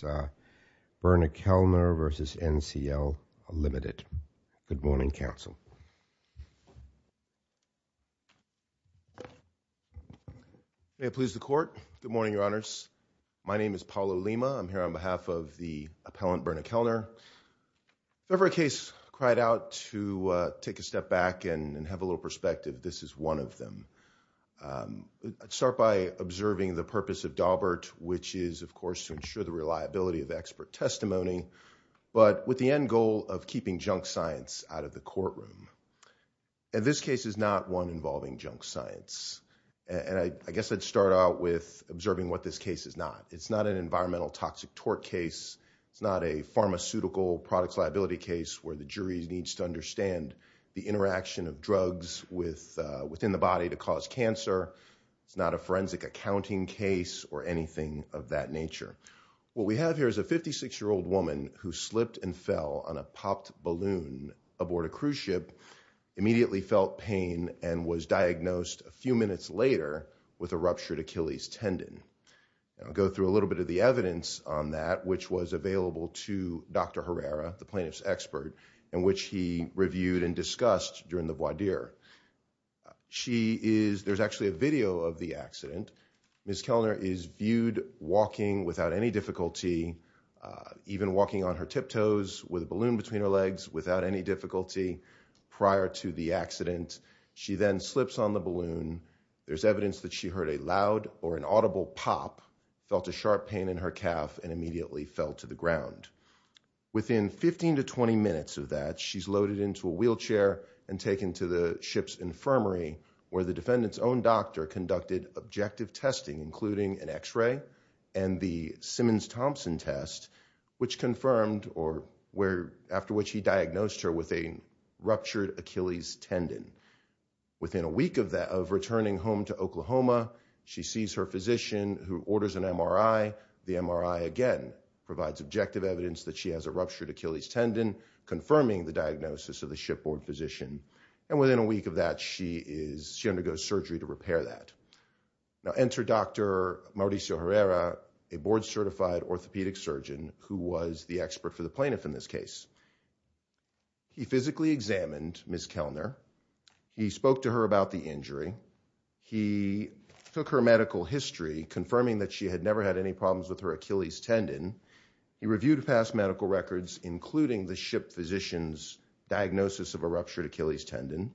Good morning, Council. May it please the Court. Good morning, Your Honors. My name is Paulo Lima. I'm here on behalf of the appellant, Berna Kellner. If ever a case cried out to take a step back and have a little perspective, this is one of them. I'd start by observing the purpose of Daubert, which is, of course, to ensure the reliability of expert testimony, but with the end goal of keeping junk science out of the courtroom. And this case is not one involving junk science. And I guess I'd start out with observing what this case is not. It's not an environmental toxic tort case. It's not a pharmaceutical products liability case where the jury needs to understand the interaction of drugs within the body to cause cancer. It's not a forensic accounting case or anything of that nature. What we have here is a 56-year-old woman who slipped and fell on a popped balloon aboard a cruise ship, immediately felt pain, and was diagnosed a few minutes later with a ruptured Achilles tendon. I'll go through a little bit of the evidence on that, which was available to Dr. Herrera, the plaintiff's expert, in which he reviewed and discussed during the voir dire. There's actually a video of the accident. Ms. Kellner is viewed walking without any difficulty, even walking on her tiptoes with a balloon between her legs, without any difficulty prior to the accident. She then slips on the balloon. There's evidence that she heard a loud or an audible pop, felt a sharp pain in her calf, and immediately fell to the ground. Within 15 to 20 minutes of that, she's loaded into a wheelchair and taken to the ship's infirmary, where the defendant's own doctor conducted objective testing, including an X-ray and the Simmons-Thompson test, which confirmed or after which he diagnosed her with a ruptured Achilles tendon. Within a week of returning home to Oklahoma, she sees her physician, who orders an MRI. The MRI, again, provides objective evidence that she has a ruptured Achilles tendon, confirming the diagnosis of the shipboard physician. And within a week of that, she undergoes surgery to repair that. Now, enter Dr. Mauricio Herrera, a board-certified orthopedic surgeon who was the expert for the plaintiff in this case. He physically examined Ms. Kellner. He spoke to her about the injury. He took her medical history, confirming that she had never had any problems with her Achilles tendon. He reviewed past medical records, including the ship physician's diagnosis of a ruptured Achilles tendon.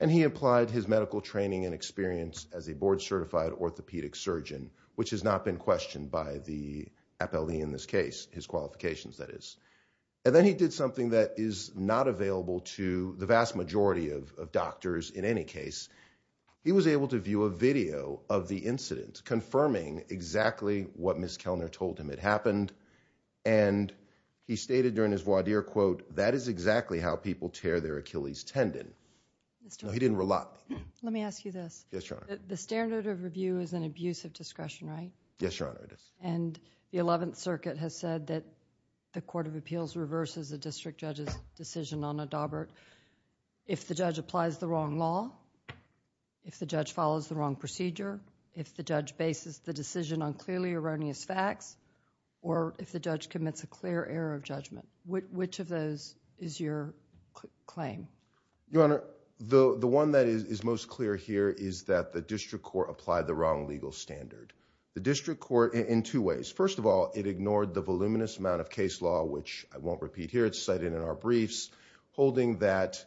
And he applied his medical training and experience as a board-certified orthopedic surgeon, which has not been questioned by the appellee in this case, his qualifications, that is. And then he did something that is not available to the vast majority of doctors in any case. He was able to view a video of the incident, confirming exactly what Ms. Kellner told him had happened. And he stated during his voir dire, quote, that is exactly how people tear their Achilles tendon. He didn't rely. Let me ask you this. Yes, Your Honor. The standard of review is an abuse of discretion, right? Yes, Your Honor, it is. And the Eleventh Circuit has said that the Court of Appeals reverses the district judge's decision on Adaubert if the judge applies the wrong law, if the judge follows the wrong procedure, if the judge bases the decision on clearly erroneous facts, or if the judge commits a clear error of judgment. Which of those is your claim? Your Honor, the one that is most clear here is that the district court applied the wrong legal standard. The district court in two ways. First of all, it ignored the voluminous amount of case law, which I won't repeat here. It's cited in our briefs, holding that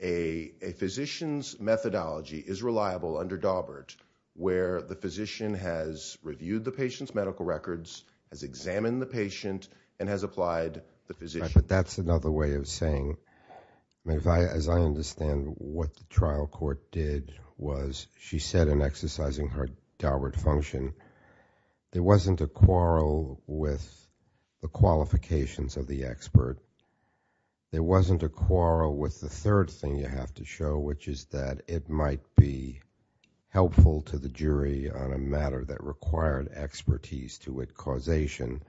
a physician's methodology is reliable under Adaubert, where the physician has reviewed the patient's medical records, has examined the patient, and has applied the physician. But that's another way of saying, as I understand what the trial court did, was she said in exercising her Adaubert function, there wasn't a quarrel with the qualifications of the expert. There wasn't a quarrel with the third thing you have to show, which is that it might be helpful to the jury on a matter that required expertise to its causation.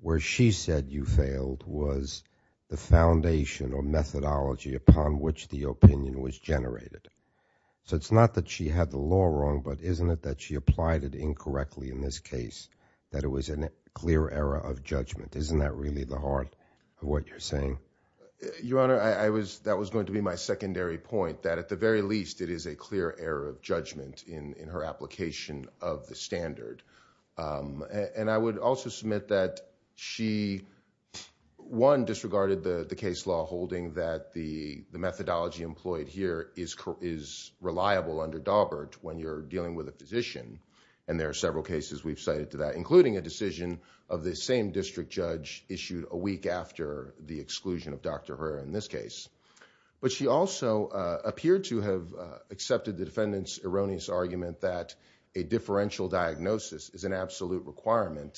Where she said you failed was the foundation or methodology upon which the opinion was generated. So it's not that she had the law wrong, but isn't it that she applied it incorrectly in this case, that it was a clear error of judgment. Isn't that really the heart of what you're saying? Your Honor, that was going to be my secondary point, that at the very least it is a clear error of judgment in her application of the standard. And I would also submit that she, one, disregarded the case law, holding that the methodology employed here is reliable under Daubert when you're dealing with a physician. And there are several cases we've cited to that, including a decision of the same district judge issued a week after the exclusion of Dr. Herr in this case. But she also appeared to have accepted the defendant's erroneous argument that a differential diagnosis is an absolute requirement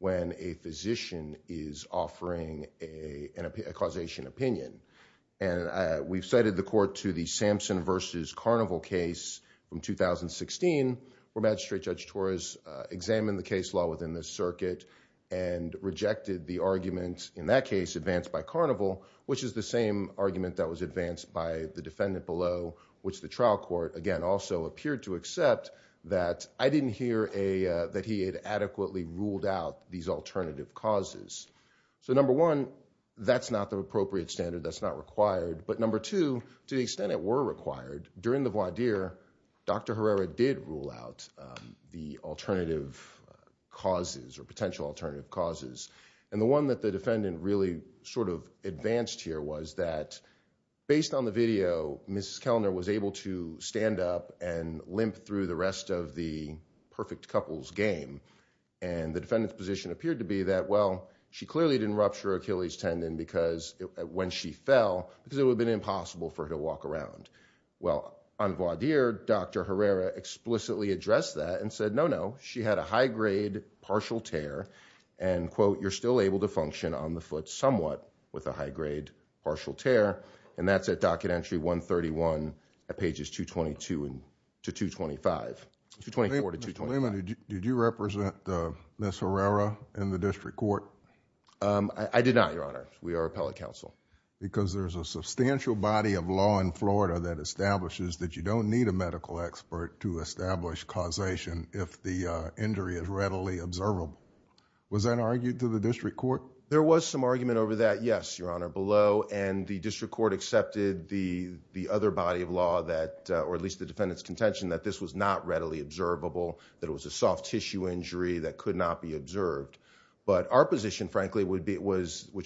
when a physician is offering a causation opinion. And we've cited the court to the Sampson v. Carnival case from 2016, where Magistrate Judge Torres examined the case law within this circuit and rejected the argument in that case advanced by Carnival, which is the same argument that was advanced by the defendant below, which the trial court, again, also appeared to accept, that I didn't hear that he had adequately ruled out these alternative causes. So number one, that's not the appropriate standard, that's not required. But number two, to the extent it were required, during the voir dire, Dr. Herrera did rule out the alternative causes or potential alternative causes. And the one that the defendant really sort of advanced here was that, based on the video, Mrs. Kellner was able to stand up and limp through the rest of the perfect couples game. And the defendant's position appeared to be that, well, she clearly didn't rupture Achilles tendon when she fell because it would have been impossible for her to walk around. Well, on voir dire, Dr. Herrera explicitly addressed that and said, no, no, she had a high-grade partial tear and, quote, you're still able to function on the foot somewhat with a high-grade partial tear. And that's at docket entry 131 at pages 224 to 225. Mr. Lehman, did you represent Ms. Herrera in the district court? I did not, Your Honor. We are appellate counsel. Because there's a substantial body of law in Florida that establishes that you don't need a medical expert to establish causation if the injury is readily observable. Was that argued to the district court? There was some argument over that, yes, Your Honor, below. And the district court accepted the other body of law that, or at least the defendant's contention, that this was not readily observable, that it was a soft tissue injury that could not be observed. But our position, frankly, which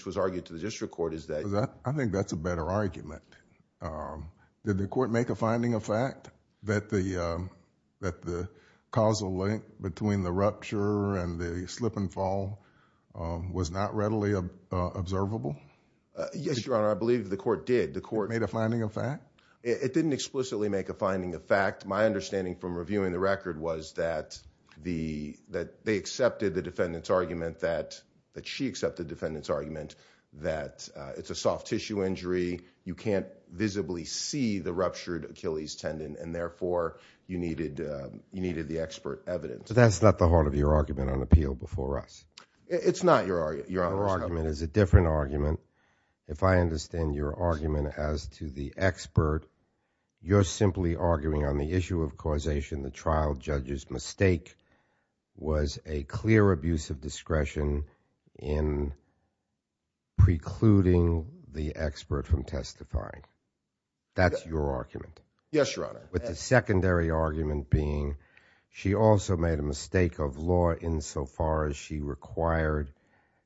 was argued to the district court is that... I think that's a better argument. Did the court make a finding of fact that the causal link between the rupture and the slip and fall was not readily observable? Yes, Your Honor, I believe the court did. It made a finding of fact? It didn't explicitly make a finding of fact. My understanding from reviewing the record was that they accepted the defendant's argument, that she accepted the defendant's argument, that it's a soft tissue injury. You can't visibly see the ruptured Achilles tendon, and therefore, you needed the expert evidence. But that's not the heart of your argument on appeal before us. It's not, Your Honor. Your argument is a different argument. If I understand your argument as to the expert, you're simply arguing on the issue of causation. The trial judge's mistake was a clear abuse of discretion in precluding the expert from testifying. That's your argument. Yes, Your Honor. With the secondary argument being she also made a mistake of law insofar as she required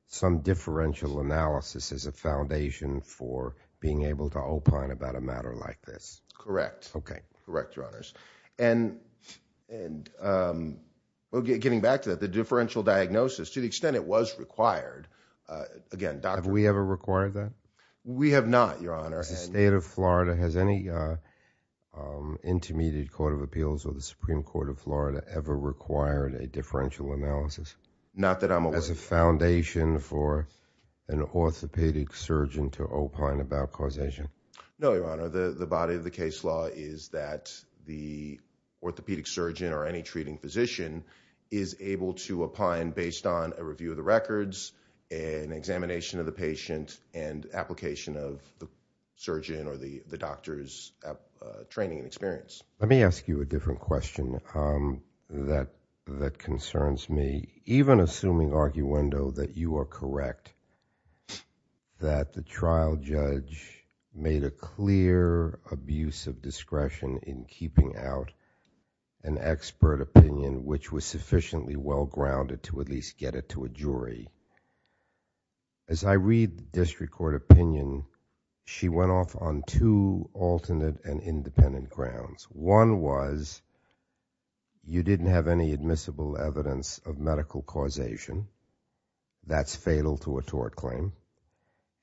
some differential analysis as a foundation for being able to opine about a matter like this. Correct. Okay. Correct, Your Honors. Getting back to that, the differential diagnosis, to the extent it was required, again, Dr. Have we ever required that? We have not, Your Honor. As a state of Florida, has any intermediate court of appeals or the Supreme Court of Florida ever required a differential analysis? Not that I'm aware of. As a foundation for an orthopedic surgeon to opine about causation? No, Your Honor. The body of the case law is that the orthopedic surgeon or any treating physician is able to opine based on a review of the records, an examination of the patient, and application of the surgeon or the doctor's training and experience. Let me ask you a different question that concerns me. Even assuming, Arguendo, that you are correct, that the trial judge made a clear abuse of discretion in keeping out an expert opinion which was sufficiently well-grounded to at least get it to a jury. As I read the district court opinion, she went off on two alternate and independent grounds. One was, you didn't have any admissible evidence of medical causation. That's fatal to a tort claim.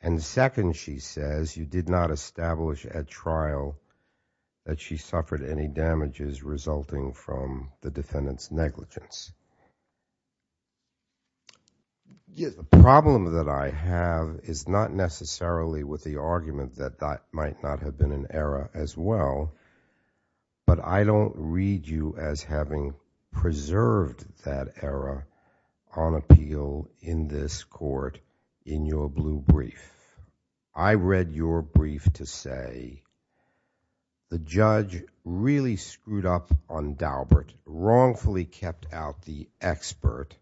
And second, she says, you did not establish at trial that she suffered any damages resulting from the defendant's negligence. The problem that I have is not necessarily with the argument that that might not have been an error as well. But I don't read you as having preserved that error on appeal in this court in your blue brief. I read your brief to say the judge really screwed up on Daubert, wrongfully kept out the expert,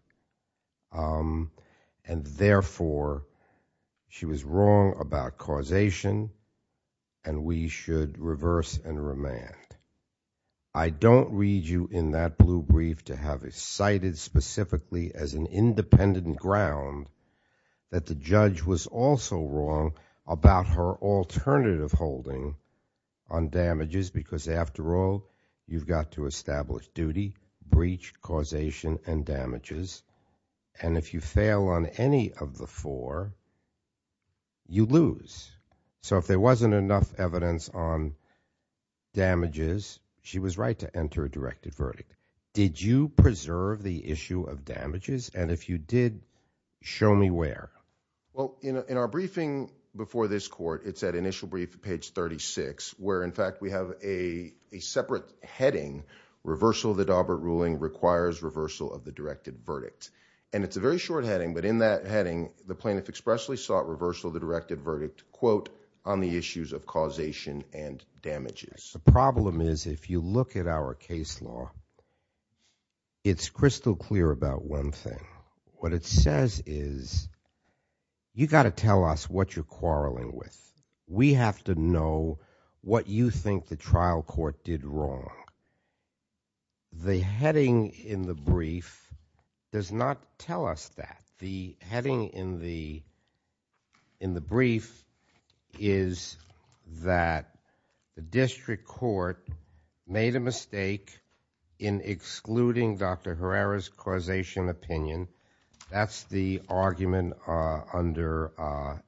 and therefore she was wrong about causation and we should reverse and remand. I don't read you in that blue brief to have it cited specifically as an independent ground that the judge was also wrong about her alternative holding on damages because after all, you've got to establish duty, breach, causation, and damages. And if you fail on any of the four, you lose. So if there wasn't enough evidence on damages, she was right to enter a directed verdict. Did you preserve the issue of damages? And if you did, show me where. Well, in our briefing before this court, it's at initial brief, page 36, where in fact we have a separate heading, reversal of the Daubert ruling requires reversal of the directed verdict. And it's a very short heading, but in that heading, the plaintiff expressly sought reversal of the directed verdict, quote, on the issues of causation and damages. The problem is if you look at our case law, it's crystal clear about one thing. What it says is you've got to tell us what you're quarreling with. We have to know what you think the trial court did wrong. The heading in the brief does not tell us that. The heading in the brief is that the district court made a mistake in excluding Dr. Herrera's causation opinion. That's the argument under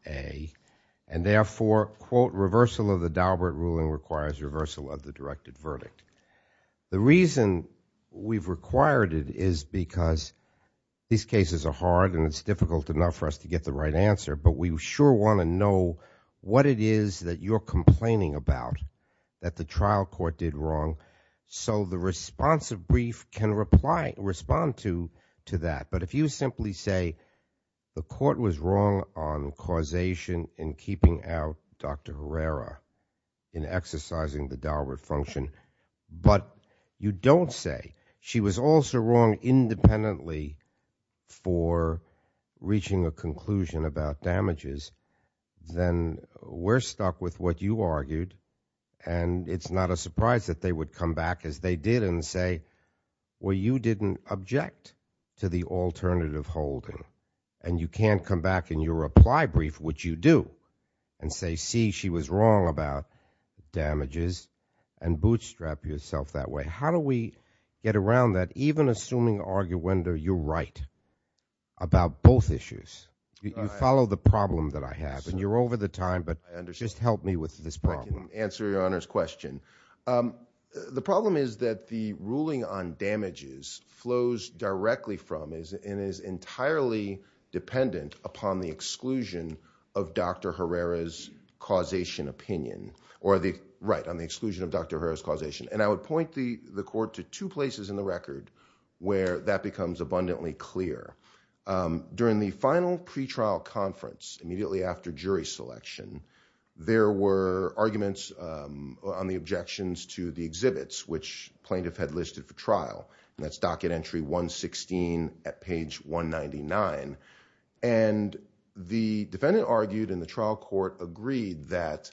A. And therefore, quote, reversal of the Daubert ruling requires reversal of the directed verdict. The reason we've required it is because these cases are hard and it's difficult enough for us to get the right answer, but we sure want to know what it is that you're complaining about that the trial court did wrong, so the responsive brief can respond to that. But if you simply say the court was wrong on causation in keeping out Dr. Herrera in exercising the Daubert function, but you don't say she was also wrong independently for reaching a conclusion about damages, then we're stuck with what you argued, and it's not a surprise that they would come back as they did and say, well, you didn't object to the alternative holding, and you can't come back in your reply brief, which you do, and say, see, she was wrong about damages, and bootstrap yourself that way. How do we get around that, even assuming, arguendo, you're right about both issues? You follow the problem that I have, and you're over the time, but just help me with this problem. I can answer Your Honor's question. The problem is that the ruling on damages flows directly from and is entirely dependent upon the exclusion of Dr. Herrera's causation opinion, or the right on the exclusion of Dr. Herrera's causation, and I would point the court to two places in the record where that becomes abundantly clear. During the final pretrial conference, immediately after jury selection, there were arguments on the objections to the exhibits which plaintiff had listed for trial, and that's docket entry 116 at page 199, and the defendant argued in the trial court agreed that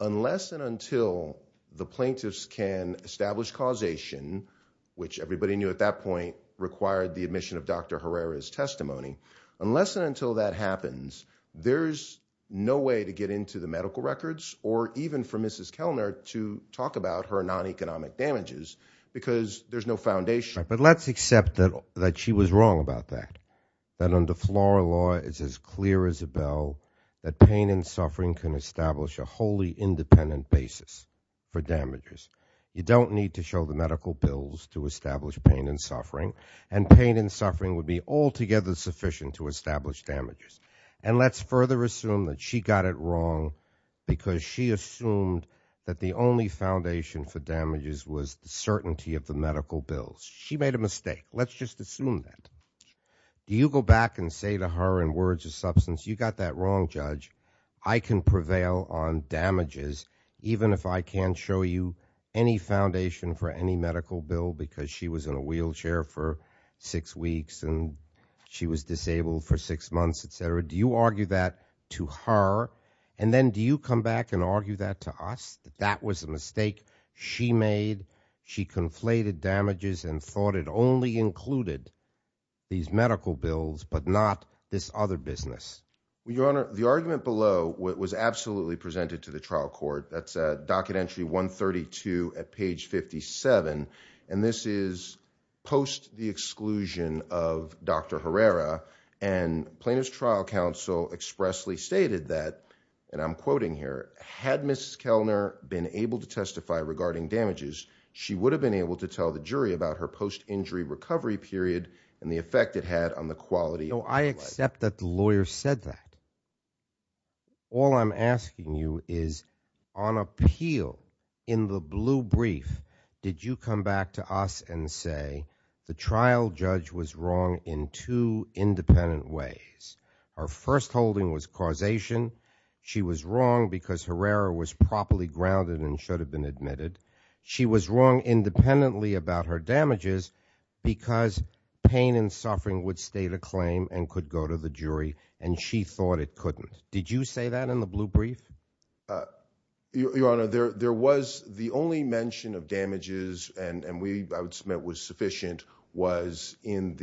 unless and until the plaintiffs can establish causation, which everybody knew at that point required the admission of Dr. Herrera's testimony, unless and until that happens, there's no way to get into the medical records, or even for Mrs. Kellner to talk about her non-economic damages, because there's no foundation. But let's accept that she was wrong about that, that under floral law it's as clear as a bell that pain and suffering can establish a wholly independent basis for damages. You don't need to show the medical bills to establish pain and suffering, and pain and suffering would be altogether sufficient to establish damages. And let's further assume that she got it wrong, because she assumed that the only foundation for damages was the certainty of the medical bills. She made a mistake. Let's just assume that. You go back and say to her in words of substance, you got that wrong, Judge. I can prevail on damages, even if I can't show you any foundation for any medical bill, because she was in a wheelchair for six weeks, and she was disabled for six months, et cetera. Do you argue that to her? And then do you come back and argue that to us, that that was a mistake she made? She conflated damages and thought it only included these medical bills, but not this other business. Your Honor, the argument below was absolutely presented to the trial court. That's a docket entry 132 at page 57. And this is post the exclusion of Dr. Herrera. And plaintiff's trial counsel expressly stated that, and I'm quoting here, had Mrs. Kellner been able to testify regarding damages, she would have been able to tell the jury about her post-injury recovery period and the effect it had on the quality of her life. No, I accept that the lawyer said that. All I'm asking you is, on appeal, in the blue brief, did you come back to us and say the trial judge was wrong in two independent ways? Her first holding was causation. She was wrong because Herrera was properly grounded and should have been admitted. She was wrong independently about her damages because pain and suffering would state a claim and could go to the jury, and she thought it couldn't. Did you say that in the blue brief? Your Honor, there was the only mention of damages, and I would submit was sufficient, during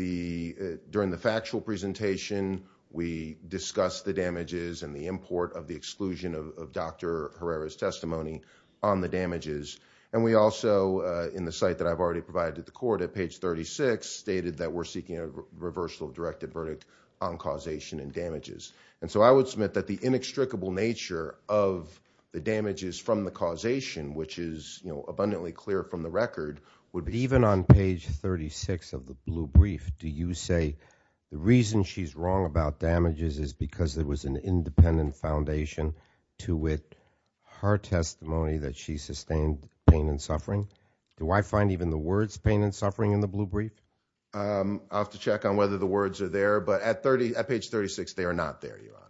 the factual presentation we discussed the damages and the import of the exclusion of Dr. Herrera's testimony on the damages. And we also, in the site that I've already provided to the court at page 36, stated that we're seeking a reversal of directed verdict on causation and damages. And so I would submit that the inextricable nature of the damages from the causation, which is abundantly clear from the record, would be Even on page 36 of the blue brief, do you say the reason she's wrong about damages is because there was an independent foundation to it, her testimony that she sustained pain and suffering? Do I find even the words pain and suffering in the blue brief? I'll have to check on whether the words are there, but at page 36, they are not there, Your Honor.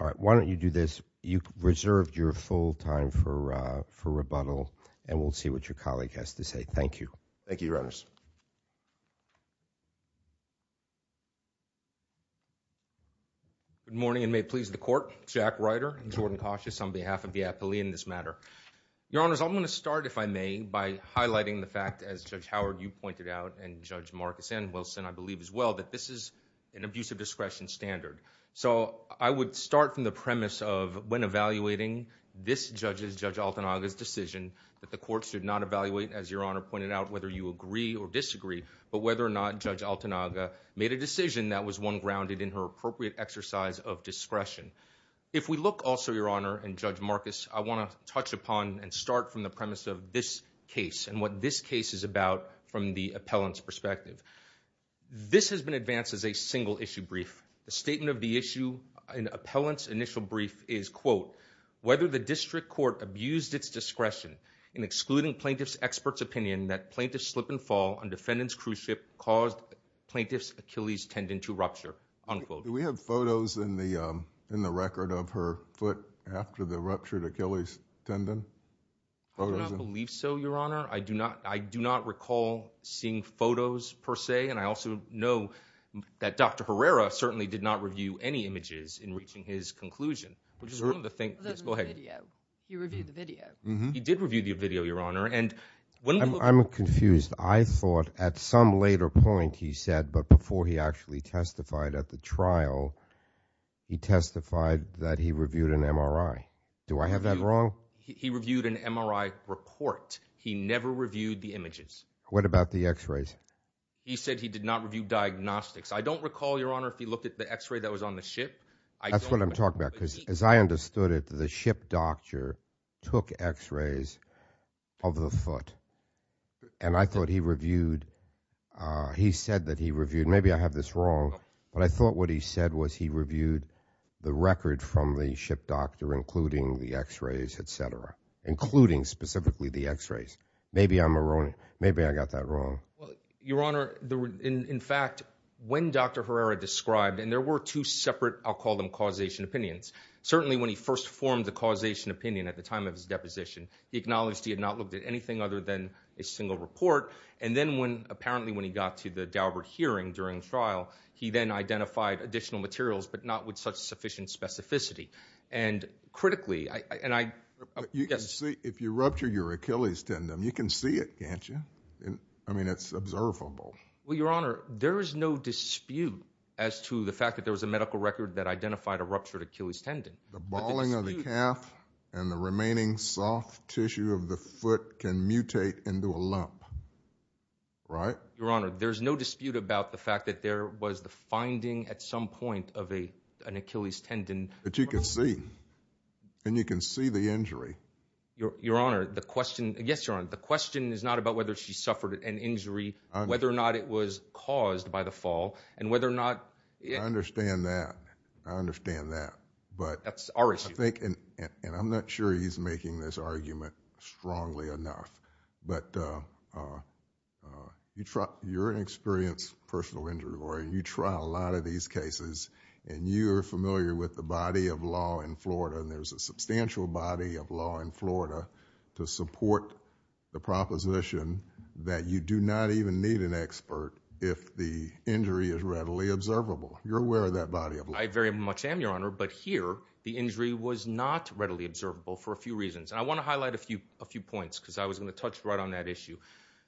All right, why don't you do this? You reserved your full time for rebuttal, and we'll see what your colleague has to say. Thank you. Thank you, Your Honors. Good morning, and may it please the court. Jack Ryder, Jordan Cautious, on behalf of the appealee in this matter. Your Honors, I'm going to start, if I may, by highlighting the fact, as Judge Howard, you pointed out, and Judge Marcus and Wilson, I believe as well, that this is an abusive discretion standard. So I would start from the premise of, when evaluating this judge's, Judge Altanaga's decision, that the court should not evaluate, as Your Honor pointed out, whether you agree or disagree, but whether or not Judge Altanaga made a decision that was one grounded in her appropriate exercise of discretion. If we look also, Your Honor, and Judge Marcus, I want to touch upon and start from the premise of this case and what this case is about from the appellant's perspective. This has been advanced as a single issue brief. The statement of the issue in the appellant's initial brief is, quote, whether the district court abused its discretion in excluding plaintiff's expert's opinion that plaintiff's slip and fall on defendant's cruise ship caused plaintiff's Achilles tendon to rupture, unquote. Do we have photos in the record of her foot after the ruptured Achilles tendon? I do not believe so, Your Honor. I do not recall seeing photos, per se, and I also know that Dr. Herrera certainly did not review any images in reaching his conclusion, which is one of the things. Go ahead. He reviewed the video. He did review the video, Your Honor. I'm confused. I thought at some later point he said, but before he actually testified at the trial, he testified that he reviewed an MRI. Do I have that wrong? He reviewed an MRI report. He never reviewed the images. What about the x-rays? He said he did not review diagnostics. I don't recall, Your Honor, if he looked at the x-ray that was on the ship. That's what I'm talking about, because as I understood it, the ship doctor took x-rays of the foot, and I thought he reviewed, he said that he reviewed, maybe I have this wrong, but I thought what he said was he reviewed the record from the ship doctor, including the x-rays, et cetera, including specifically the x-rays. Maybe I'm erroneous. Maybe I got that wrong. Your Honor, in fact, when Dr. Herrera described, and there were two separate I'll call them causation opinions, certainly when he first formed the causation opinion at the time of his deposition, he acknowledged he had not looked at anything other than a single report, and then apparently when he got to the Daubert hearing during the trial, he then identified additional materials but not with such sufficient specificity. And critically, and I, yes. If you rupture your Achilles tendon, you can see it, can't you? I mean, it's observable. Well, Your Honor, there is no dispute as to the fact that there was a medical record that identified a ruptured Achilles tendon. The balling of the calf and the remaining soft tissue of the foot can mutate into a lump, right? Your Honor, there's no dispute about the fact that there was the finding at some point of an Achilles tendon. But you can see. And you can see the injury. Your Honor, the question, yes, Your Honor, the question is not about whether she suffered an injury, whether or not it was caused by the fall, and whether or not... I understand that. I understand that. But... That's our issue. And I'm not sure he's making this argument strongly enough. But you're an experienced personal injury lawyer, and you trial a lot of these cases, and you're familiar with the body of law in Florida, and there's a substantial body of law in Florida to support the proposition that you do not even need an expert if the injury is readily observable. You're aware of that body of law. I very much am, Your Honor, but here the injury was not readily observable for a few reasons. And I want to highlight a few points because I was going to touch right on that issue.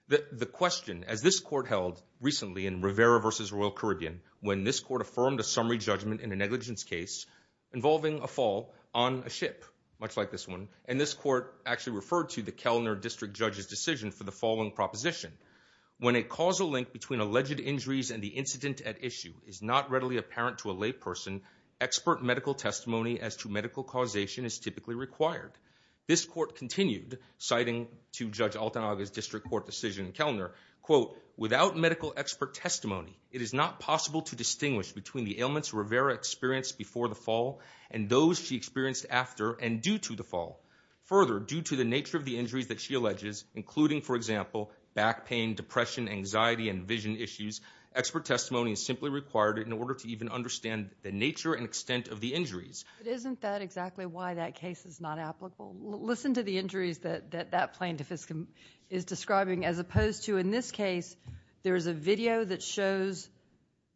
The question, as this court held recently in Rivera v. Royal Caribbean, when this court affirmed a summary judgment in a negligence case involving a fall on a ship, much like this one, and this court actually referred to the Kellner District Judge's decision for the following proposition. When a causal link between alleged injuries and the incident at issue is not readily apparent to a layperson, expert medical testimony as to medical causation is typically required. This court continued, citing to Judge Altanaga's district court decision in Kellner, quote, without medical expert testimony, it is not possible to distinguish between the ailments Rivera experienced before the fall and those she experienced after and due to the fall. Further, due to the nature of the injuries that she alleges, including, for example, back pain, depression, anxiety, and vision issues, expert testimony is simply required in order to even understand the nature and extent of the injuries. But isn't that exactly why that case is not applicable? Listen to the injuries that that plaintiff is describing, as opposed to, in this case, there is a video that shows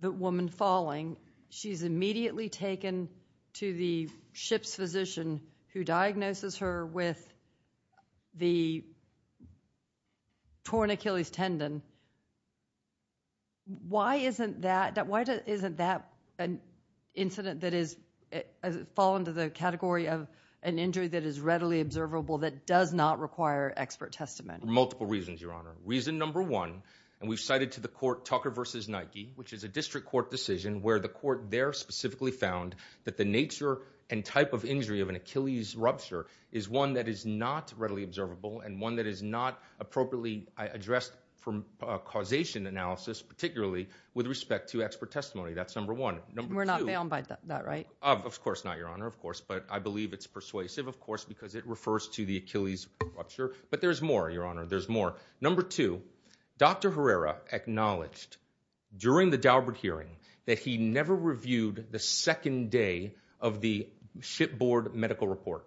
the woman falling. She's immediately taken to the ship's physician who diagnoses her with the torn Achilles tendon. Why isn't that an incident that has fallen to the category of an injury that is readily observable that does not require expert testimony? Multiple reasons, Your Honor. Reason number one, and we've cited to the court Tucker v. Nike, which is a district court decision where the court there specifically found that the nature and type of injury of an Achilles rupture is one that is not readily observable and one that is not appropriately addressed from causation analysis, particularly with respect to expert testimony. That's number one. We're not bound by that, right? Of course not, Your Honor. Of course. But I believe it's persuasive, of course, because it refers to the Achilles rupture. But there's more, Your Honor. There's more. Number two, Dr. Herrera acknowledged during the Daubert hearing that he never reviewed the second day of the shipboard medical report.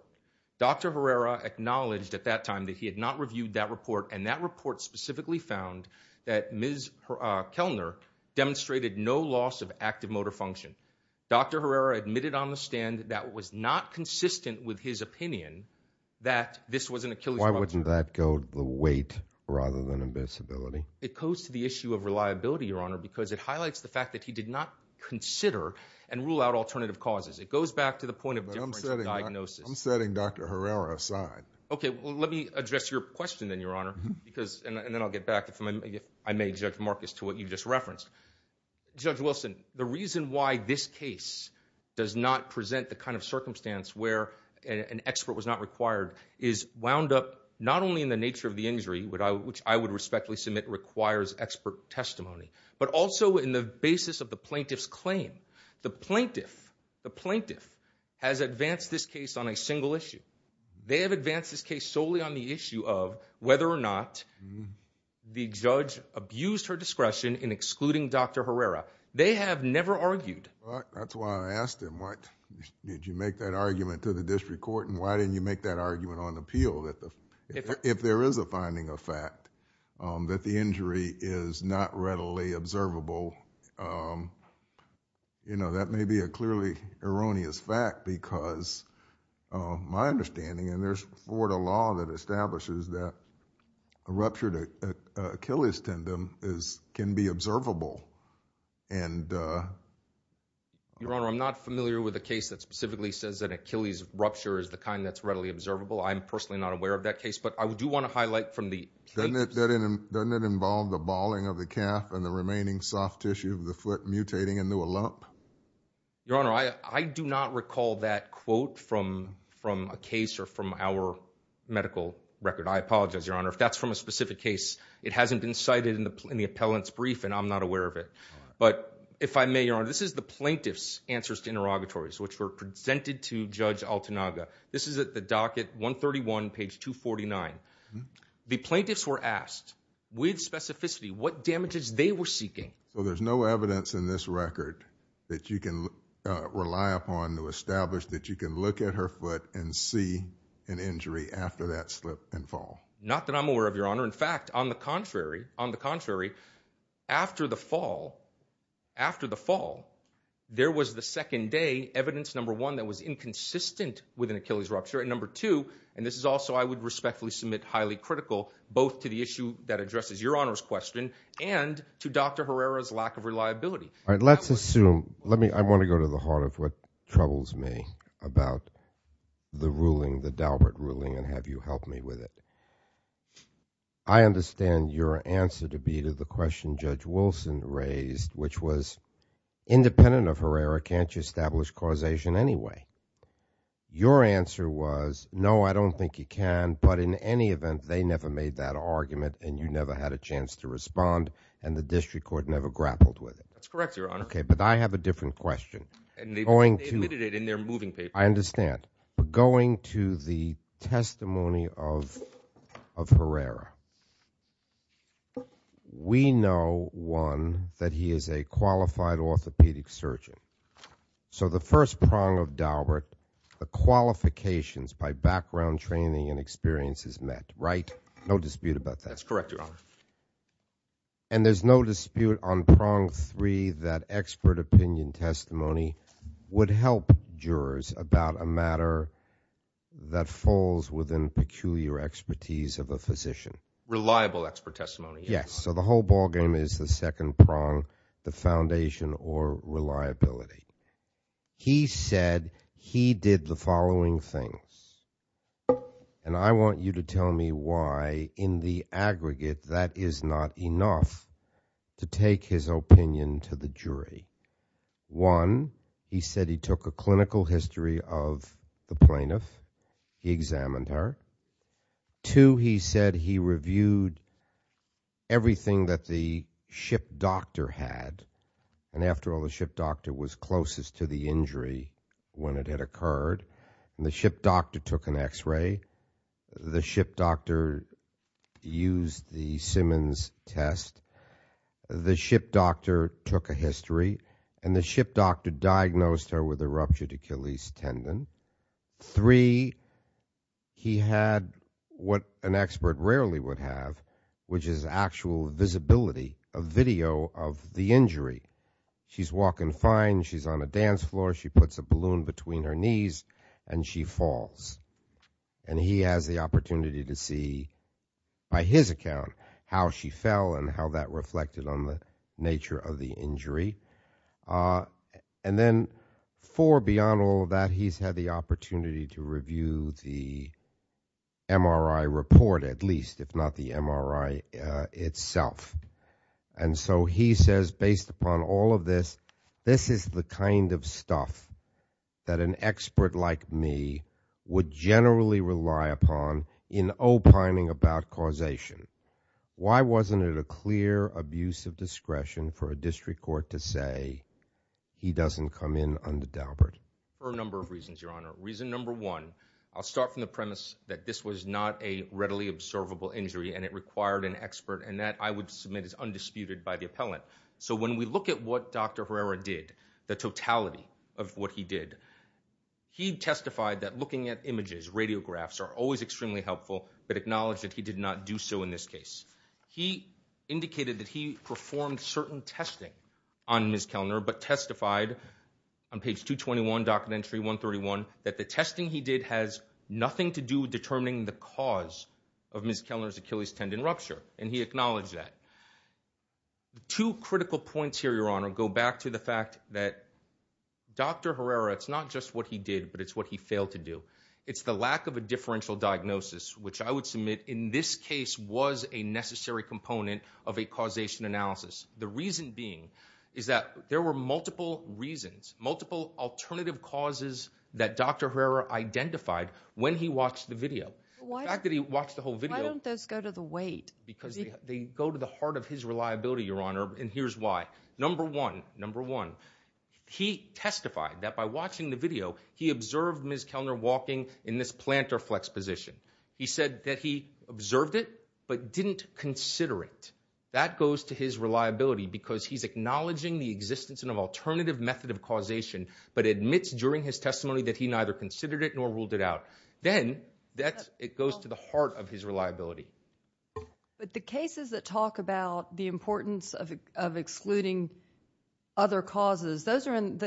Dr. Herrera acknowledged at that time that he had not reviewed that report, and that report specifically found that Ms. Kellner demonstrated no loss of active motor function. Dr. Herrera admitted on the stand that it was not consistent with his opinion that this was an Achilles rupture. Why wouldn't that go to the weight rather than invincibility? It goes to the issue of reliability, Your Honor, because it highlights the fact that he did not consider and rule out alternative causes. It goes back to the point of differential diagnosis. I'm setting Dr. Herrera aside. Okay. Well, let me address your question then, Your Honor, and then I'll get back, if I may, Judge Marcus, to what you just referenced. Judge Wilson, the reason why this case does not present the kind of circumstance where an expert was not required is wound up not only in the nature of the injury, which I would respectfully submit requires expert testimony, but also in the basis of the plaintiff's claim. The plaintiff has advanced this case on a single issue. They have advanced this case solely on the issue of whether or not the judge abused her discretion in excluding Dr. Herrera. They have never argued. That's why I asked him, did you make that argument to the district court, and why didn't you make that argument on appeal? If there is a finding of fact that the injury is not readily observable, that may be a clearly erroneous fact because my understanding, and there's Florida law that establishes that a ruptured Achilles tendon can be observable. Your Honor, I'm not familiar with a case that specifically says that an Achilles rupture is the kind that's readily observable. I'm personally not aware of that case, but I do want to highlight from the plaintiffs. Doesn't it involve the bawling of the calf and the remaining soft tissue of the foot mutating into a lump? Your Honor, I do not recall that quote from a case or from our medical record. I apologize, Your Honor. If that's from a specific case, it hasn't been cited in the appellant's brief, and I'm not aware of it. But if I may, Your Honor, this is the plaintiff's answers to interrogatories, which were presented to Judge Altanaga. This is at the docket 131, page 249. The plaintiffs were asked with specificity what damages they were seeking. Well, there's no evidence in this record that you can rely upon to establish that you can look at her foot and see an injury after that slip and fall. Not that I'm aware of, Your Honor. In fact, on the contrary, after the fall, there was the second day evidence, number one, that was inconsistent with an Achilles rupture, and number two, and this is also I would respectfully submit highly critical, both to the issue that addresses Your Honor's question and to Dr. Herrera's lack of reliability. All right, let's assume. I want to go to the heart of what troubles me about the ruling, the Daubert ruling, and have you help me with it. I understand your answer to be to the question Judge Wilson raised, which was independent of Herrera, can't you establish causation anyway? Your answer was, no, I don't think you can, but in any event, they never made that argument and you never had a chance to respond and the district court never grappled with it. That's correct, Your Honor. Okay, but I have a different question. They admitted it in their moving paper. I understand. Going to the testimony of Herrera, we know, one, that he is a qualified orthopedic surgeon. So the first prong of Daubert, the qualifications by background training and experience is met, right? No dispute about that. That's correct, Your Honor. And there's no dispute on prong three that expert opinion testimony would help jurors about a matter that falls within peculiar expertise of a physician. Reliable expert testimony. Yes. So the whole ballgame is the second prong, the foundation or reliability. He said he did the following things, and I want you to tell me why in the aggregate that is not enough to take his opinion to the jury. One, he said he took a clinical history of the plaintiff. He examined her. Two, he said he reviewed everything that the ship doctor had, and after all, the ship doctor was closest to the injury when it had occurred, and the ship doctor took an X-ray. The ship doctor used the Simmons test. The ship doctor took a history, and the ship doctor diagnosed her with a ruptured Achilles tendon. Three, he had what an expert rarely would have, which is actual visibility of video of the injury. She's walking fine. She's on a dance floor. She puts a balloon between her knees, and she falls. And he has the opportunity to see by his account how she fell and how that reflected on the nature of the injury. And then four, beyond all of that, he's had the opportunity to review the MRI report at least, if not the MRI itself. And so he says, based upon all of this, this is the kind of stuff that an expert like me would generally rely upon in opining about causation. Why wasn't it a clear abuse of discretion for a district court to say, he doesn't come in under Daubert? For a number of reasons, Your Honor. Reason number one, I'll start from the premise that this was not a readily observable injury, and it required an expert, and that, I would submit, is undisputed by the appellant. So when we look at what Dr. Herrera did, the totality of what he did, he testified that looking at images, radiographs, are always extremely helpful, but acknowledged that he did not do so in this case. He indicated that he performed certain testing on Ms. Kellner, but testified on page 221, document entry 131, that the testing he did has nothing to do with determining the cause of Ms. Kellner's Achilles tendon rupture. And he acknowledged that. Two critical points here, Your Honor, go back to the fact that Dr. Herrera, it's not just what he did, but it's what he failed to do. It's the lack of a differential diagnosis, which I would submit, in this case, was a necessary component of a causation analysis. The reason being is that there were multiple reasons, multiple alternative causes that Dr. Herrera identified when he watched the video. The fact that he watched the whole video... Why don't those go to the weight? Because they go to the heart of his reliability, Your Honor, and here's why. Number one, number one, he testified that by watching the video, he observed Ms. Kellner walking in this plantar flex position. He said that he observed it but didn't consider it. That goes to his reliability because he's acknowledging the existence of an alternative method of causation, but admits during his testimony Then it goes to the heart of his reliability. The cases that talk about the importance of excluding other causes, those are in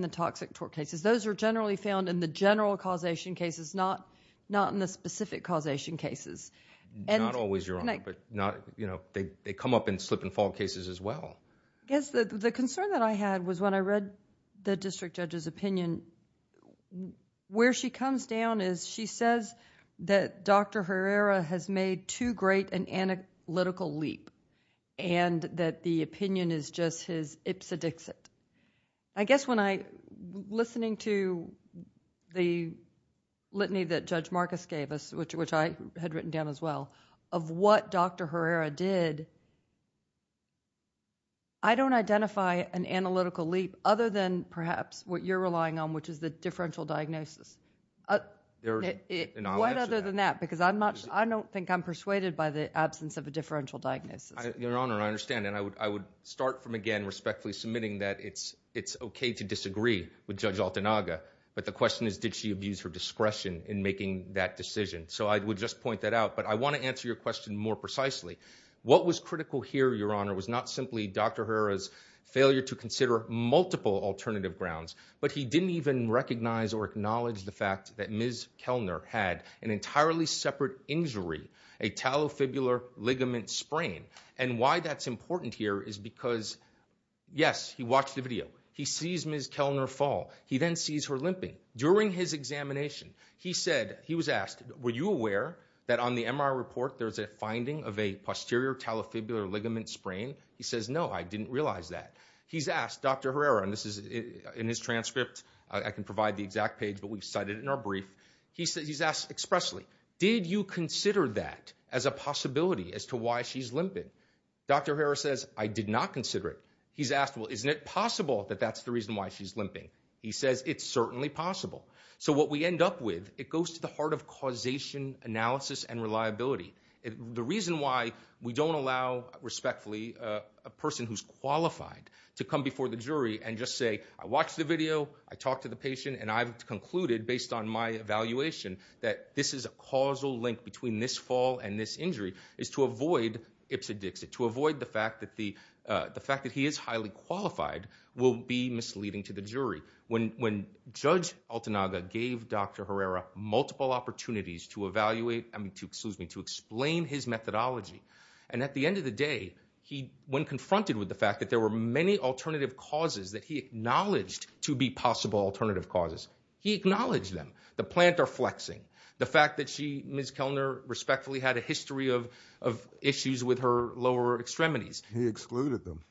the toxic tort cases. Those are generally found in the general causation cases, not in the specific causation cases. Not always, Your Honor, but they come up in slip and fall cases as well. The concern that I had was when I read the district judge's opinion, where she comes down is she says that Dr. Herrera has made too great an analytical leap and that the opinion is just his ipsedixit. I guess when I, listening to the litany that Judge Marcus gave us, which I had written down as well, of what Dr. Herrera did, I don't identify an analytical leap other than perhaps what you're relying on, which is the differential diagnosis. What other than that? Because I don't think I'm persuaded by the absence of a differential diagnosis. Your Honor, I understand, and I would start from again respectfully submitting that it's okay to disagree with Judge Altanaga, but the question is, did she abuse her discretion in making that decision? So I would just point that out, but I want to answer your question more precisely. What was critical here, Your Honor, was not simply Dr. Herrera's failure to consider multiple alternative grounds, but he didn't even recognize or acknowledge the fact that Ms. Kellner had an entirely separate injury, a talofibular ligament sprain. And why that's important here is because, yes, he watched the video. He sees Ms. Kellner fall. He then sees her limping. During his examination, he said, he was asked, were you aware that on the MRI report there's a finding of a posterior talofibular ligament sprain? He says, no, I didn't realize that. He's asked Dr. Herrera, and this is in his transcript. I can provide the exact page, but we've cited it in our brief. He's asked expressly, did you consider that as a possibility as to why she's limping? Dr. Herrera says, I did not consider it. He's asked, well, isn't it possible that that's the reason why she's limping? He says, it's certainly possible. So what we end up with, it goes to the heart of causation analysis and reliability. The reason why we don't allow, respectfully, a person who's qualified to come before the jury and just say, I watched the video, I talked to the patient, and I've concluded, based on my evaluation, that this is a causal link between this fall and this injury, is to avoid ipsa dixit, to avoid the fact that he is highly qualified will be misleading to the jury. When Judge Altanaga gave Dr. Herrera multiple opportunities to evaluate, I mean, excuse me, to explain his methodology, and at the end of the day, when confronted with the fact that there were many alternative causes that he acknowledged to be possible alternative causes, he acknowledged them, the plantar flexing, the fact that she, Ms. Kellner, respectfully had a history of issues with her lower extremities. He excluded them.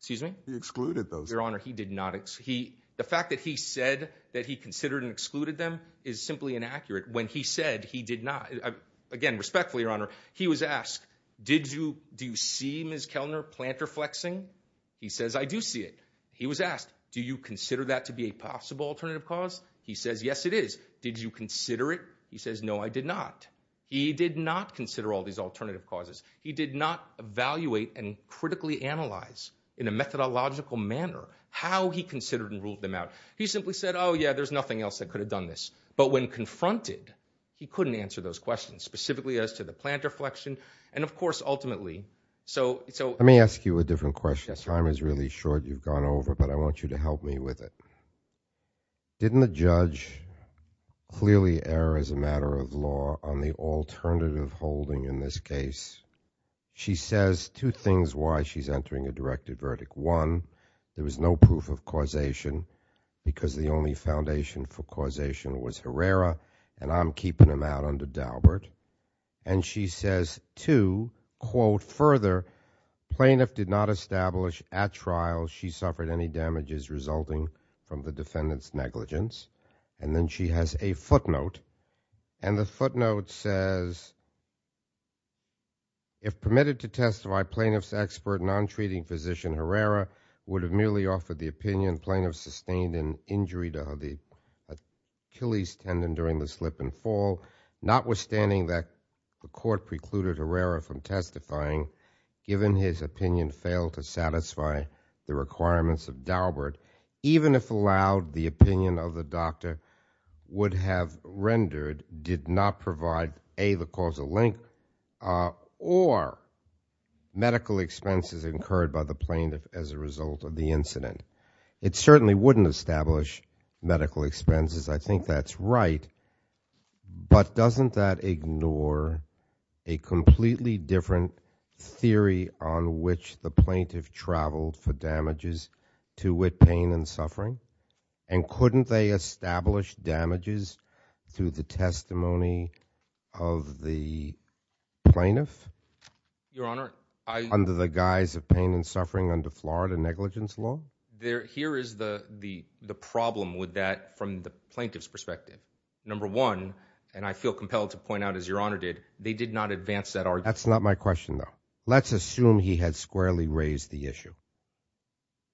Excuse me? He excluded those. Your Honor, he did not. The fact that he said that he considered and excluded them is simply inaccurate. When he said he did not, again, respectfully, Your Honor, he was asked, did you see, Ms. Kellner, plantar flexing? He says, I do see it. He was asked, do you consider that to be a possible alternative cause? He says, yes, it is. Did you consider it? He says, no, I did not. He did not consider all these alternative causes. He did not evaluate and critically analyze, in a methodological manner, how he considered and ruled them out. He simply said, oh, yeah, there's nothing else that could have done this. But when confronted, he couldn't answer those questions, specifically as to the plantar flexion, and, of course, ultimately. Let me ask you a different question. The time is really short. You've gone over, but I want you to help me with it. Didn't the judge clearly err as a matter of law on the alternative holding in this case? She says two things why she's entering a directed verdict. One, there was no proof of causation because the only foundation for causation was Herrera, and I'm keeping him out under Daubert. And she says, two, quote, further, plaintiff did not establish at trial she suffered any damages resulting from the defendant's negligence. And then she has a footnote, and the footnote says, if permitted to testify, plaintiff's expert non-treating physician Herrera would have merely offered the opinion sustained in injury to the Achilles tendon during the slip and fall. Notwithstanding that the court precluded Herrera from testifying, given his opinion failed to satisfy the requirements of Daubert, even if allowed, the opinion of the doctor would have rendered did not provide, A, the causal link, or medical expenses incurred by the plaintiff as a result of the incident. It certainly wouldn't establish medical expenses. I think that's right. But doesn't that ignore a completely different theory on which the plaintiff traveled for damages to wit pain and suffering? And couldn't they establish damages through the testimony of the plaintiff? Your Honor, I... Here is the problem with that from the plaintiff's perspective. Number one, and I feel compelled to point out, as Your Honor did, they did not advance that argument. That's not my question, though. Let's assume he had squarely raised the issue.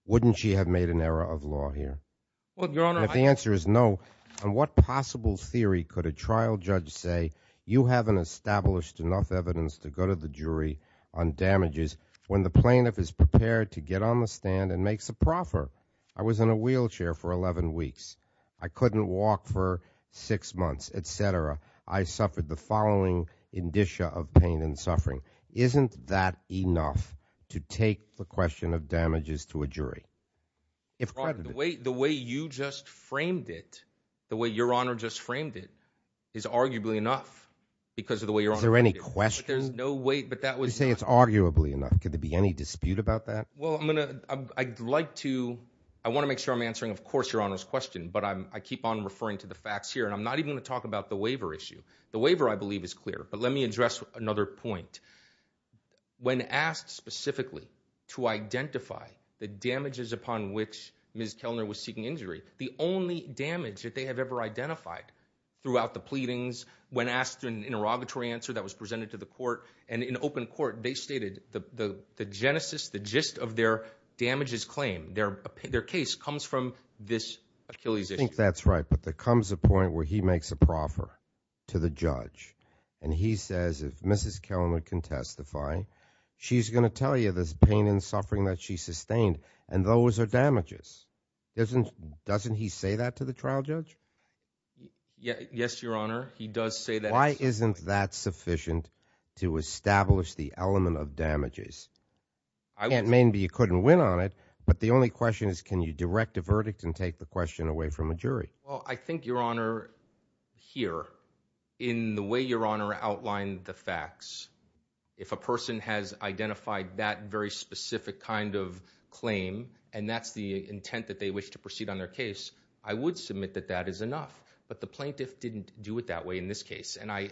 Wouldn't she have made an error of law here? Well, Your Honor, I... If the answer is no, on what possible theory could a trial judge say, you haven't established enough evidence to go to the jury on damages when the plaintiff is prepared to get on the stand and makes a proffer? I was in a wheelchair for 11 weeks. I couldn't walk for 6 months, et cetera. I suffered the following indicia of pain and suffering. Isn't that enough to take the question of damages to a jury? Your Honor, the way you just framed it, the way Your Honor just framed it, is arguably enough because of the way Your Honor framed it. Is there any question? There's no way... You say it's arguably enough. Could there be any dispute about that? Well, I'm going to... I'd like to... I want to make sure I'm answering, of course, Your Honor's question, but I keep on referring to the facts here, and I'm not even going to talk about the waiver issue. The waiver, I believe, is clear, but let me address another point. When asked specifically to identify the damages upon which Ms. Kellner was seeking injury, the only damage that they have ever identified throughout the pleadings, when asked an interrogatory answer that was presented to the court and in open court, they stated the genesis, the gist of their damages claim, their case, comes from this Achilles issue. I think that's right, but there comes a point where he makes a proffer to the judge, and he says, if Mrs. Kellner can testify, she's going to tell you this pain and suffering that she sustained, and those are damages. Doesn't he say that to the trial judge? Yes, Your Honor, he does say that. Why isn't that sufficient to establish the element of damages? It may be you couldn't win on it, but the only question is can you direct a verdict and take the question away from a jury? Well, I think, Your Honor, here, in the way Your Honor outlined the facts, if a person has identified that very specific kind of claim, and that's the intent that they wish to proceed on their case, I would submit that that is enough, but the plaintiff didn't do it that way in this case, and I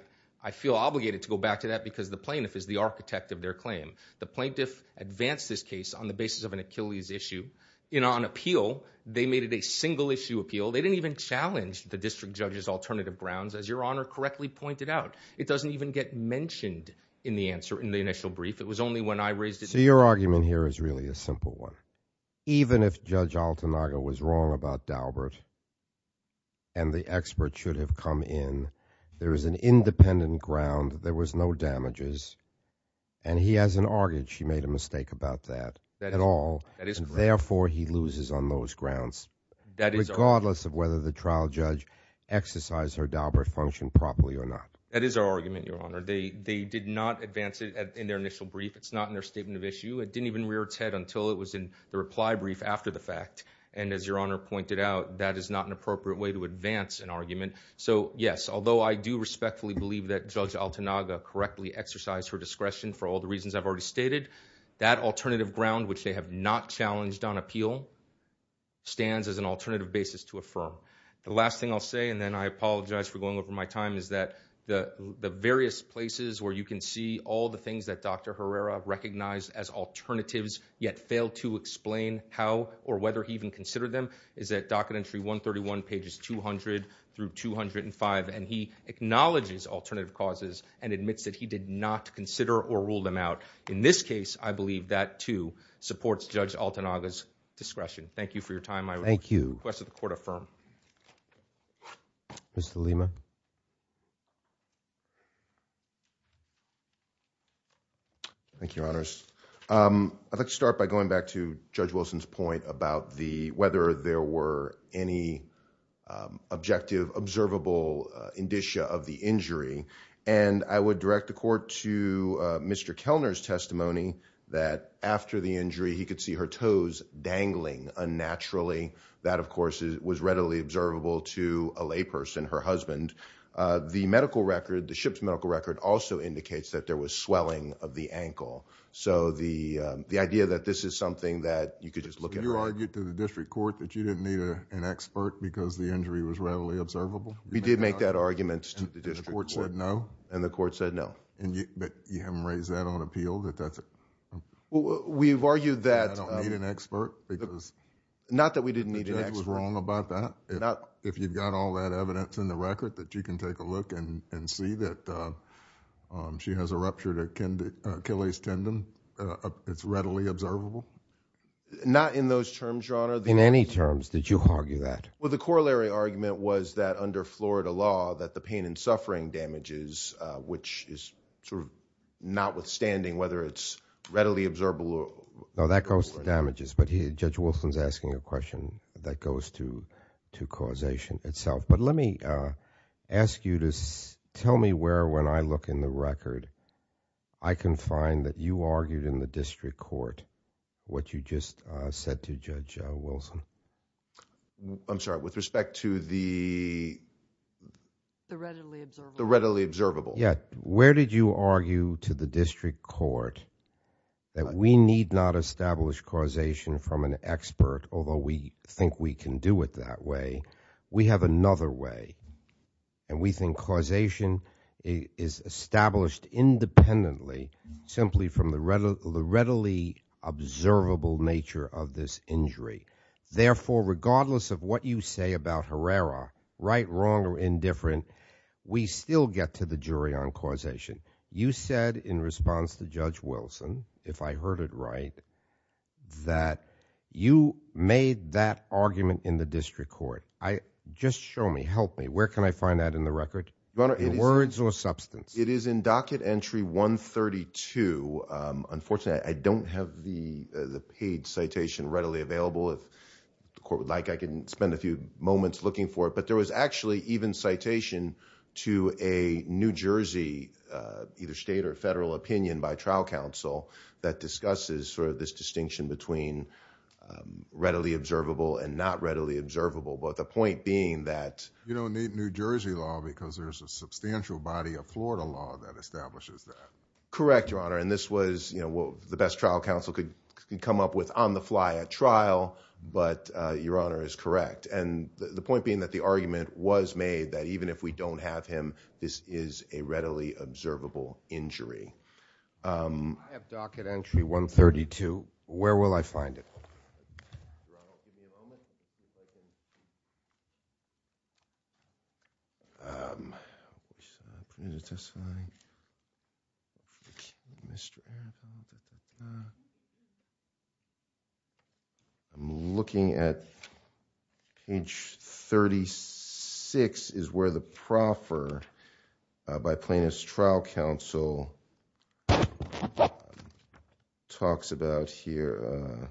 feel obligated to go back to that because the plaintiff is the architect of their claim. The plaintiff advanced this case on the basis of an Achilles issue. On appeal, they made it a single-issue appeal. They didn't even challenge the district judge's alternative grounds, as Your Honor correctly pointed out. It doesn't even get mentioned in the initial brief. It was only when I raised it. So your argument here is really a simple one. Even if Judge Altanaga was wrong about Daubert and the expert should have come in, there is an independent ground, there was no damages, and he hasn't argued she made a mistake about that at all, and therefore he loses on those grounds, regardless of whether the trial judge exercised her Daubert function properly or not. That is our argument, Your Honor. They did not advance it in their initial brief. It's not in their statement of issue. It didn't even rear its head until it was in the reply brief after the fact, and as Your Honor pointed out, that is not an appropriate way to advance an argument. So, yes, although I do respectfully believe that Judge Altanaga correctly exercised her discretion for all the reasons I've already stated, that alternative ground, which they have not challenged on appeal, stands as an alternative basis to affirm. The last thing I'll say, and then I apologize for going over my time, is that the various places where you can see all the things that Dr. Herrera recognized as alternatives yet failed to explain how or whether he even considered them is at Docket Entry 131, pages 200 through 205, and he acknowledges alternative causes and admits that he did not consider or rule them out. In this case, I believe that, too, supports Judge Altanaga's discretion. Thank you for your time. Thank you. I request that the Court affirm. Mr. Lima? Thank you, Your Honors. I'd like to start by going back to Judge Wilson's point about whether there were any objective, observable indicia of the injury, and I would direct the Court to Mr. Kellner's testimony that after the injury, he could see her toes dangling unnaturally. That, of course, was readily observable to a layperson, her husband. The medical record, the ship's medical record, also indicates that there was swelling of the ankle. So the idea that this is something that you could just look at... You argued to the district court that you didn't need an expert because the injury was readily observable? We did make that argument to the district court. And the court said no? And the court said no. But you haven't raised that on appeal, that that's... We've argued that... That you don't need an expert because... Not that we didn't need an expert. The judge was wrong about that. If you've got all that evidence in the record, that you can take a look and see that she has a ruptured Achilles tendon. It's readily observable? Not in those terms, Your Honor. In any terms? Did you argue that? Well, the corollary argument was that under Florida law, that the pain and suffering damages, which is sort of notwithstanding whether it's readily observable... No, that goes to damages. But Judge Wolfson's asking a question that goes to causation itself. But let me ask you to tell me where, when I look in the record, I can find that you argued in the district court what you just said to Judge Wolfson. I'm sorry. With respect to the... The readily observable. The readily observable. Yeah. Where did you argue to the district court that we need not establish causation from an expert, although we think we can do it that way? We have another way. And we think causation is established independently, simply from the readily observable nature of this injury. Therefore, regardless of what you say about Herrera, right, wrong, or indifferent, we still get to the jury on causation. You said in response to Judge Wolfson, if I heard it right, that you made that argument in the district court. Just show me, help me, where can I find that in the record? In words or substance? It is in docket entry 132. Unfortunately, I don't have the paid citation readily available. If the court would like, I can spend a few moments looking for it. But there was actually even citation to a New Jersey, either state or federal, opinion by trial counsel that discusses sort of this distinction between readily observable and not readily observable, but the point being that... You don't need New Jersey law because there's a substantial body of Florida law that establishes that. Correct, Your Honor, and this was, you know, what the best trial counsel could come up with on the fly at trial, but Your Honor is correct. And the point being that the argument was made that even if we don't have him, this is a readily observable injury. I have docket entry 132. Where will I find it? I'm looking at page 36 is where the proffer by plaintiff's trial counsel talks about here. I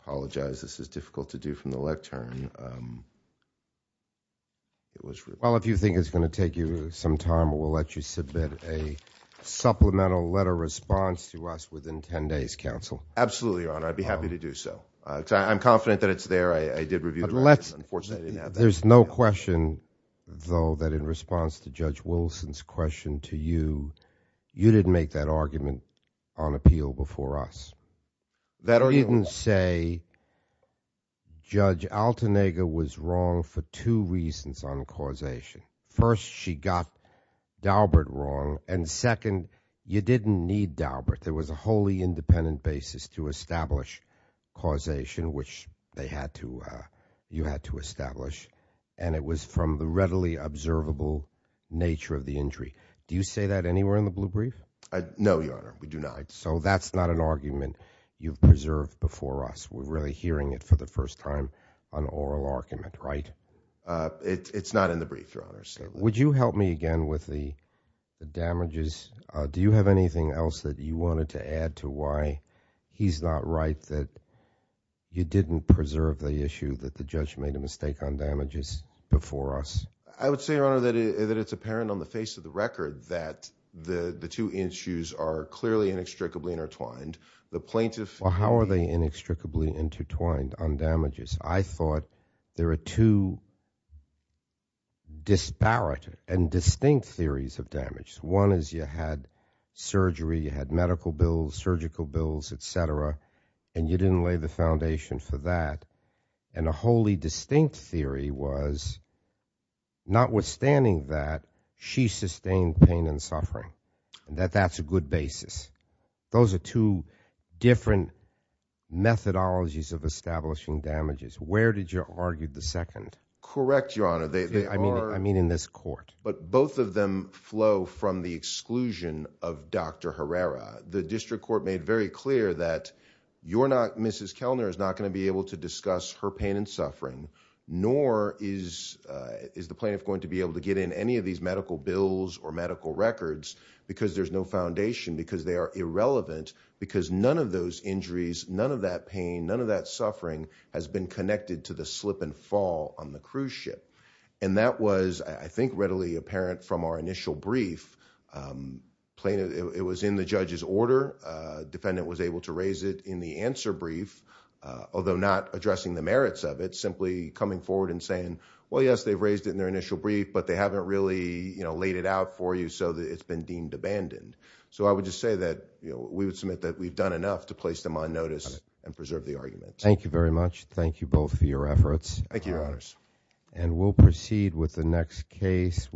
apologize. This is difficult to do from the lectern. Well, if you think it's going to take you some time, we'll let you submit a supplemental letter response to us within 10 days, counsel. Absolutely, Your Honor. I'd be happy to do so. I'm confident that it's there. I did review it. Unfortunately, I didn't have that. There's no question, though, that in response to Judge Wilson's question to you, you didn't make that argument on appeal before us. You didn't say Judge Altenegger was wrong for two reasons on causation. First, she got Daubert wrong, and second, you didn't need Daubert. There was a wholly independent basis to establish causation, which you had to establish, and it was from the readily observable nature of the injury. Do you say that anywhere in the blue brief? No, Your Honor. We do not. So that's not an argument you've preserved before us. We're really hearing it for the first time, an oral argument, right? It's not in the brief, Your Honor. Would you help me again with the damages? Do you have anything else that you wanted to add to why he's not right that you didn't preserve the issue that the judge made a mistake on damages before us? I would say, Your Honor, that it's apparent on the face of the record that the two issues are clearly inextricably intertwined. The plaintiff— Well, how are they inextricably intertwined on damages? I thought there are two disparate and distinct theories of damage. One is you had surgery, you had medical bills, surgical bills, et cetera, and you didn't lay the foundation for that, and a wholly distinct theory was notwithstanding that, she sustained pain and suffering, that that's a good basis. Those are two different methodologies of establishing damages. Where did you argue the second? Correct, Your Honor. I mean in this court. But both of them flow from the exclusion of Dr. Herrera. The district court made very clear that you're not— nor is the plaintiff going to be able to get in any of these medical bills or medical records because there's no foundation, because they are irrelevant, because none of those injuries, none of that pain, none of that suffering has been connected to the slip and fall on the cruise ship. And that was, I think, readily apparent from our initial brief. It was in the judge's order. Defendant was able to raise it in the answer brief, although not addressing the merits of it, simply coming forward and saying, well, yes, they've raised it in their initial brief, but they haven't really laid it out for you so that it's been deemed abandoned. So I would just say that we would submit that we've done enough to place them on notice and preserve the argument. Thank you very much. Thank you both for your efforts. Thank you, Your Honors. And we'll proceed with the next case.